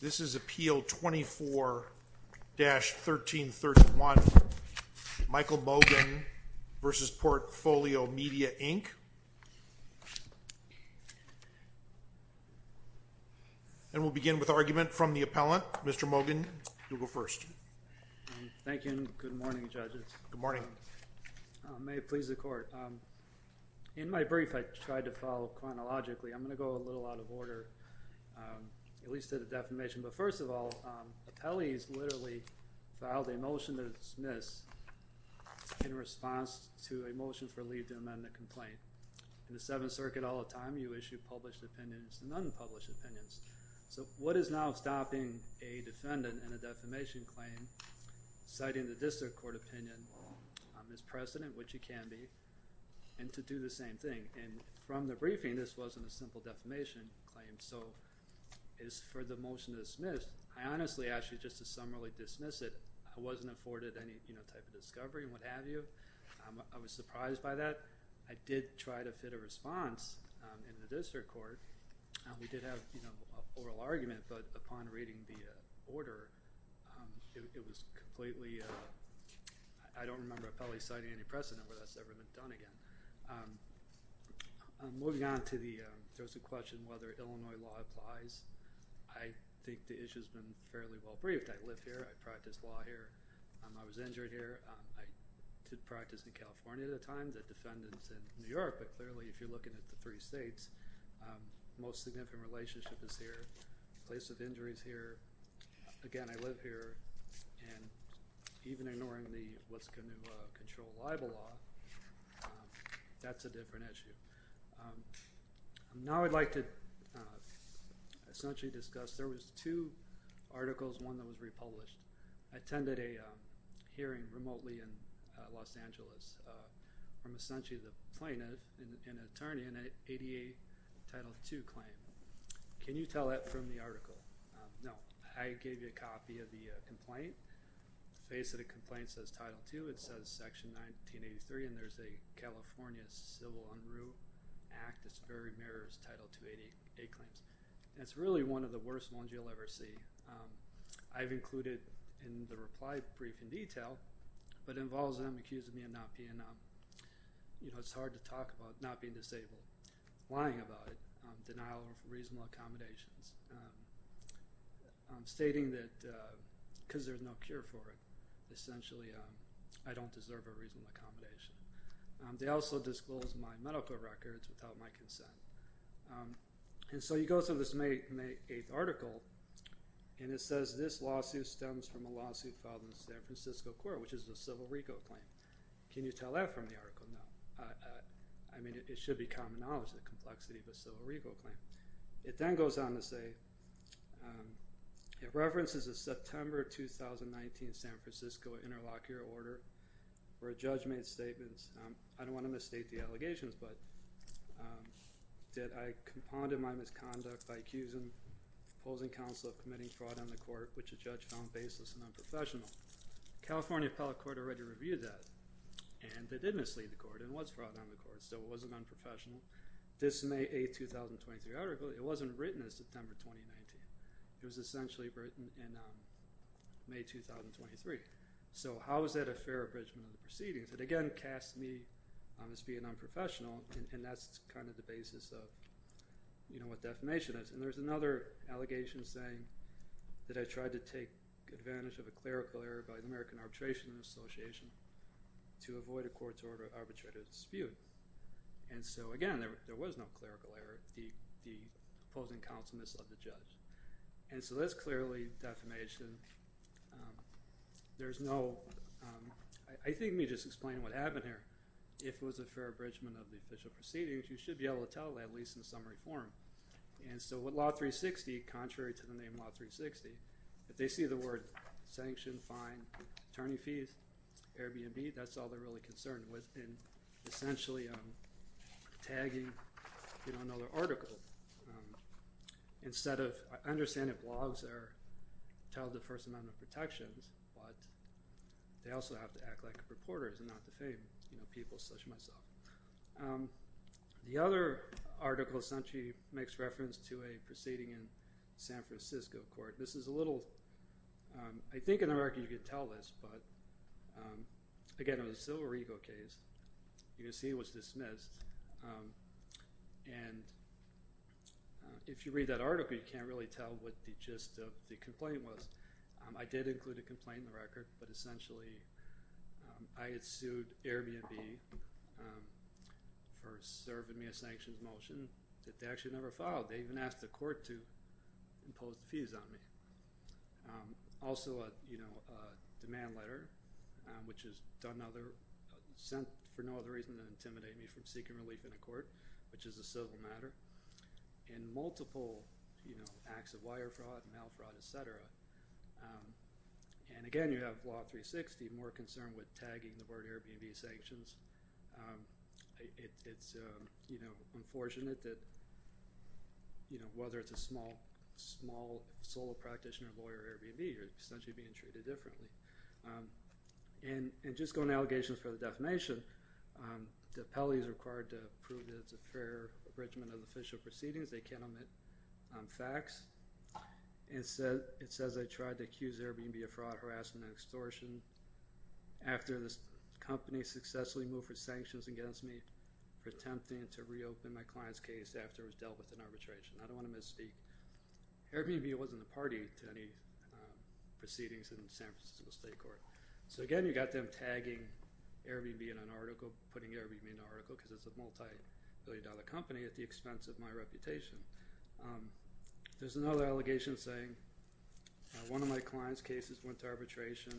This is Appeal 24-1331, Michael Mogan v. Portfolio Media Inc. And we'll begin with argument from the appellant. Mr. Mogan, you'll go first. Thank you and good morning, judges. Good morning. May it please the court. In my brief, I tried to follow chronologically. I'm going to go a little out of order, at least to the defamation. But first of all, appellees literally filed a motion to dismiss in response to a motion for leave to amend the complaint. In the Seventh Circuit all the time, you issue published opinions and unpublished opinions. So what is now stopping a defendant in a defamation claim citing the district court opinion on this precedent, which it can be, and to do the same thing? And from the briefing, this wasn't a simple defamation claim. So as for the motion to dismiss, I honestly ask you just to summarily dismiss it. I wasn't afforded any type of discovery and what have you. I was surprised by that. I did try to fit a response in the district court. We did have an oral argument. But upon reading the order, it was completely ‑‑ I don't remember appellees citing any precedent where that's ever been done again. Moving on to the question whether Illinois law applies, I think the issue has been fairly well briefed. I live here. I practice law here. I was injured here. I did practice in California at the time, the defendants in New York. But clearly, if you're looking at the three states, most significant relationship is here. The place of injury is here. Again, I live here. And even ignoring the what's going to control libel law, that's a different issue. Now I'd like to essentially discuss ‑‑ there was two articles, one that was republished. I attended a hearing remotely in Los Angeles from essentially the plaintiff, an attorney, and an ADA Title II claim. Can you tell that from the article? No. I gave you a copy of the complaint. The face of the complaint says Title II. It says Section 1983. And there's a California Civil Unruh Act that's very near Title II ADA claims. And it's really one of the worst ones you'll ever see. I've included in the reply brief in detail, but it involves them accusing me of not being, you know, it's hard to talk about not being disabled, lying about it, denial of reasonable accommodations, stating that because there's no cure for it, essentially I don't deserve a reasonable accommodation. They also disclosed my medical records without my consent. And so you go through this May 8th article, and it says, this lawsuit stems from a lawsuit filed in the San Francisco court, which is the Civil RICO claim. Can you tell that from the article? No. I mean, it should be common knowledge, the complexity of the Civil RICO claim. It then goes on to say, it references a September 2019 San Francisco interlocutor order where a judge made statements. I don't want to misstate the allegations, but that I condemned my misconduct by accusing the opposing counsel of committing fraud on the court, which a judge found baseless and unprofessional. The California Appellate Court already reviewed that. And they did mislead the court and it was fraud on the court, so it wasn't unprofessional. This May 8th, 2023 article, it wasn't written as September 2019. It was essentially written in May 2023. So how is that a fair abridgment of the proceedings? It, again, casts me as being unprofessional, and that's kind of the basis of what defamation is. And there's another allegation saying that I tried to take advantage of a clerical error by the American Arbitration Association to avoid a court-ordered arbitrated dispute. And so, again, there was no clerical error. The opposing counsel misled the judge. And so that's clearly defamation. There's no – I think let me just explain what happened here. If it was a fair abridgment of the official proceedings, you should be able to tell, at least in summary form. And so with Law 360, contrary to the name Law 360, if they see the word sanction, fine, attorney fees, Airbnb, that's all they're really concerned with. And essentially, I'm tagging another article. Instead of – I understand that blogs tell the person on the protections, but they also have to act like reporters and not defame people such as myself. The other article essentially makes reference to a proceeding in San Francisco court. This is a little – I think in America you could tell this, but again, it was a Silver Eagle case. You can see it was dismissed. And if you read that article, you can't really tell what the gist of the complaint was. I did include a complaint in the record, but essentially I had sued Airbnb for serving me a sanctions motion that they actually never filed. They even asked the court to impose the fees on me. Also, a demand letter, which is sent for no other reason than to intimidate me from seeking relief in a court, which is a civil matter. And multiple acts of wire fraud and mail fraud, et cetera. And again, you have Law 360 more concerned with tagging the word Airbnb sanctions. It's unfortunate that whether it's a small solo practitioner, lawyer, or Airbnb, you're essentially being treated differently. And just going to allegations for the defamation, the appellee is required to prove that it's a fair arrangement of official proceedings. They can't omit facts. It says I tried to accuse Airbnb of fraud, harassment, and extortion after the company successfully moved its sanctions against me, pretending to reopen my client's case after it was dealt with in arbitration. I don't want to misspeak. Airbnb wasn't a party to any proceedings in the San Francisco State Court. So again, you've got them tagging Airbnb in an article, putting Airbnb in an article, because it's a multi-billion dollar company at the expense of my reputation. There's another allegation saying one of my client's cases went to arbitration.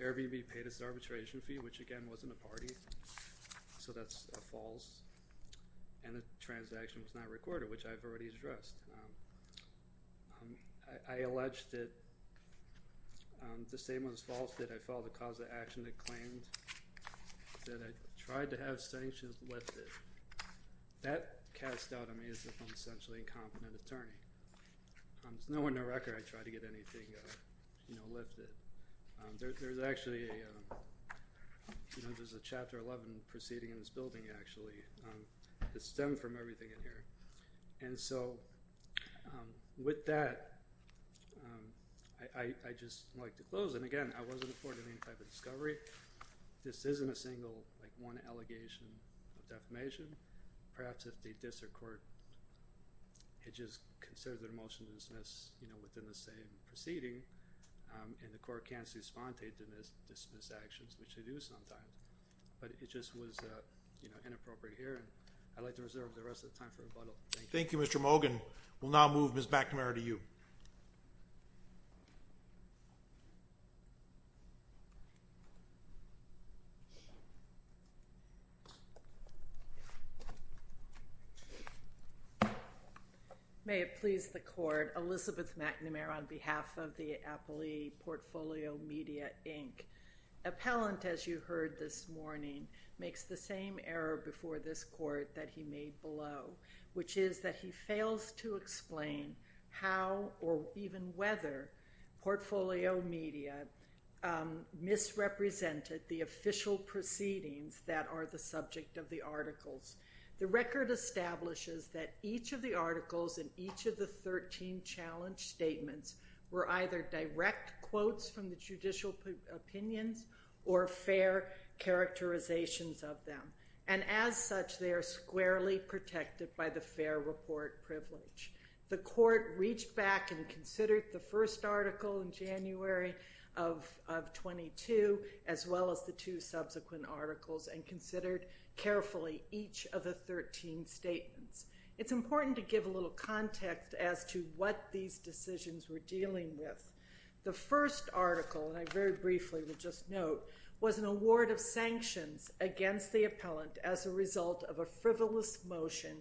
Airbnb paid its arbitration fee, which again wasn't a party. So that's false. And the transaction was not recorded, which I've already addressed. I allege that the same was false that I filed a cause of action that claimed that I tried to have sanctions lifted. That casts doubt on me as if I'm essentially an incompetent attorney. There's no one to record I tried to get anything lifted. There's actually a Chapter 11 proceeding in this building, actually, that stemmed from everything in here. And so with that, I'd just like to close. And again, I wasn't afforded any type of discovery. This isn't a single, like, one allegation of defamation. Perhaps if the district court had just considered their motion to dismiss, you know, within the same proceeding, and the court can't see spontaneous dismiss actions, which they do sometimes. But it just was, you know, inappropriate here, and I'd like to reserve the rest of the time for rebuttal. Thank you. Thank you, Mr. Mogan. We'll now move Ms. McNamara to you. May it please the court. Elizabeth McNamara on behalf of the Appellee Portfolio Media, Inc. Appellant, as you heard this morning, makes the same error before this court that he made below, which is that he fails to explain how or even whether portfolio media misrepresented the official proceedings that are the subject of the articles. The record establishes that each of the articles in each of the 13 challenge statements were either direct quotes from the judicial opinions or fair characterizations of them. And as such, they are squarely protected by the fair report privilege. The court reached back and considered the first article in January of 22, as well as the two subsequent articles, and considered carefully each of the 13 statements. It's important to give a little context as to what these decisions were dealing with. The first article, and I very briefly will just note, was an award of sanctions against the appellant as a result of a frivolous motion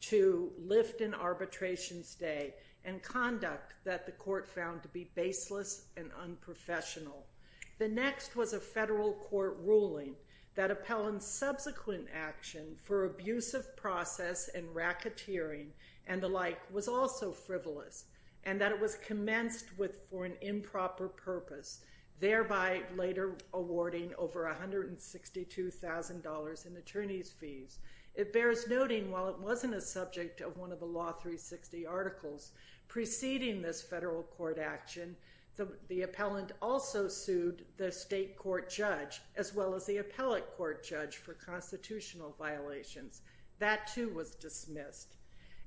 to lift an arbitration stay and conduct that the court found to be baseless and unprofessional. The next was a federal court ruling that appellant's subsequent action for abusive process and racketeering and the like was also frivolous, and that it was commenced for an improper purpose, thereby later awarding over $162,000 in attorney's fees. It bears noting, while it wasn't a subject of one of the Law 360 articles preceding this federal court action, the appellant also sued the state court judge as well as the appellate court judge for constitutional violations. That, too, was dismissed.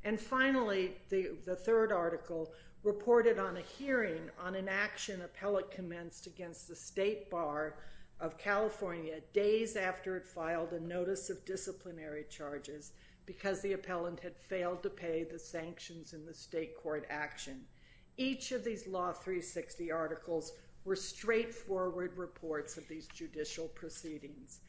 And finally, the third article reported on a hearing on an action appellate commenced against the state bar of California days after it filed a notice of disciplinary charges because the appellant had failed to pay the sanctions in the state court action. Each of these Law 360 articles were straightforward reports of these judicial proceedings.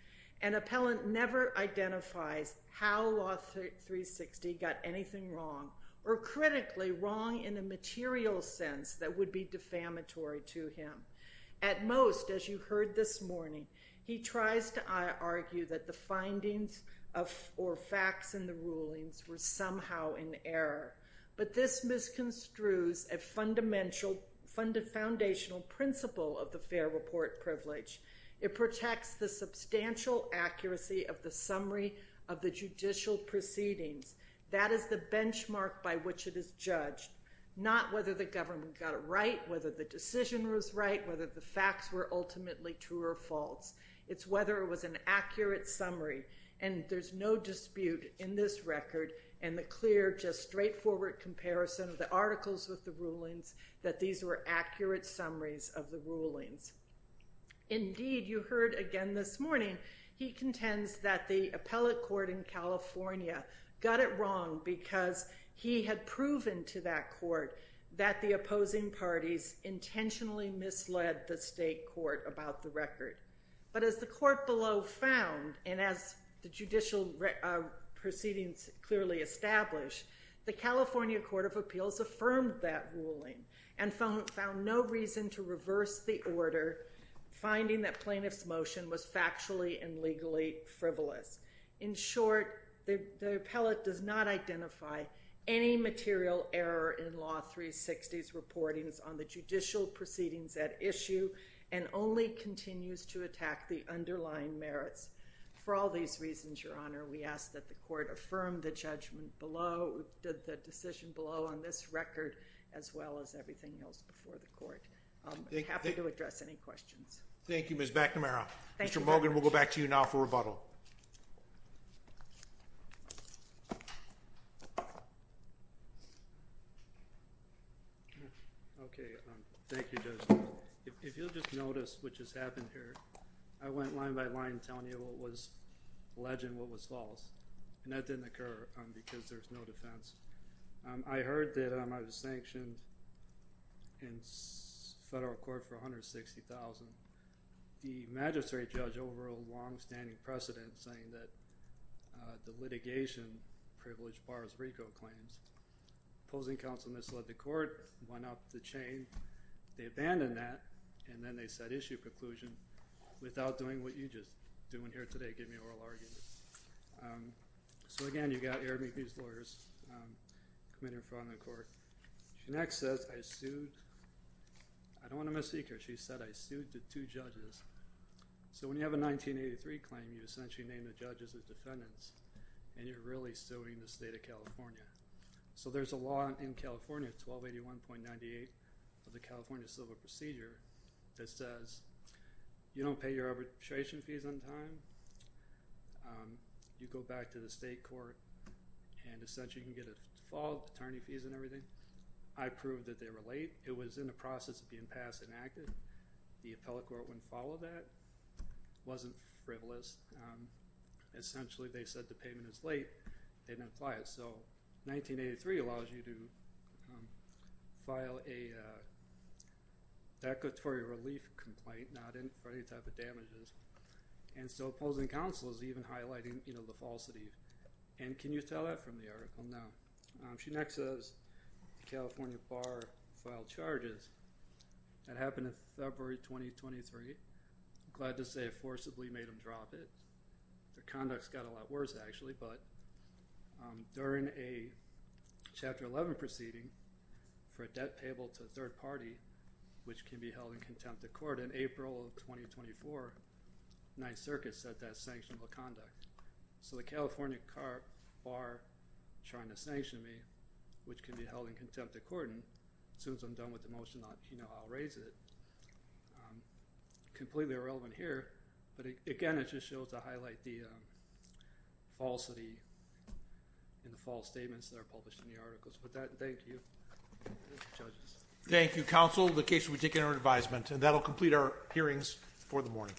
An appellant never identifies how Law 360 got anything wrong or critically wrong in a material sense that would be defamatory to him. At most, as you heard this morning, he tries to argue that the findings or facts in the rulings were somehow in error. But this misconstrues a foundational principle of the fair report privilege. It protects the substantial accuracy of the summary of the judicial proceedings. That is the benchmark by which it is judged, not whether the government got it right, whether the decision was right, whether the facts were ultimately true or false. It's whether it was an accurate summary. And there's no dispute in this record and the clear, just straightforward comparison of the articles with the rulings that these were accurate summaries of the rulings. Indeed, you heard again this morning, he contends that the appellate court in California got it wrong because he had proven to that court that the opposing parties intentionally misled the state court about the record. But as the court below found, and as the judicial proceedings clearly established, the California Court of Appeals affirmed that ruling and found no reason to reverse the order, finding that plaintiff's motion was factually and legally frivolous. In short, the appellate does not identify any material error in Law 360's reportings on the judicial proceedings at issue and only continues to attack the underlying merits. For all these reasons, Your Honor, we ask that the court affirm the judgment below, the decision below on this record, as well as everything else before the court. I'm happy to address any questions. Thank you, Ms. McNamara. Thank you, Judge. Mr. Mogan, we'll go back to you now for rebuttal. Okay, thank you, Judge. If you'll just notice what just happened here, I went line by line telling you what was alleged and what was false, and that didn't occur because there's no defense. I heard that I was sanctioned in federal court for $160,000. The magistrate judge overruled a longstanding precedent saying that the litigation privilege bars RICO claims. The opposing counsel misled the court, went up the chain. They abandoned that, and then they said issue a conclusion without doing what you're just doing here today, giving oral arguments. So, again, you've got Arab-Mexican lawyers committing fraud in the court. She next says, I sued. I don't want to misspeak here. She said, I sued the two judges. So when you have a 1983 claim, you essentially name the judges as defendants, and you're really suing the state of California. So there's a law in California, 1281.98 of the California Civil Procedure, that says you don't pay your arbitration fees on time. You go back to the state court, and essentially you can get a fault, attorney fees and everything. I proved that they were late. It was in the process of being passed and acted. The appellate court wouldn't follow that. It wasn't frivolous. Essentially, they said the payment is late. So 1983 allows you to file a declaratory relief complaint, not for any type of damages. And so opposing counsel is even highlighting the falsity. And can you tell that from the article? No. She next says the California Bar filed charges. That happened in February 2023. I'm glad to say it forcibly made them drop it. The conduct's got a lot worse, actually. But during a Chapter 11 proceeding for a debt payable to a third party, which can be held in contempt of court, in April of 2024, 9th Circuit said that's sanctionable conduct. So the California Bar trying to sanction me, which can be held in contempt of court, and as soon as I'm done with the motion, I'll raise it, completely irrelevant here. But, again, it just shows to highlight the falsity in the false statements that are published in the articles. With that, thank you. Thank you, judges. Thank you, counsel. The case will be taken under advisement. And that will complete our hearings for the morning.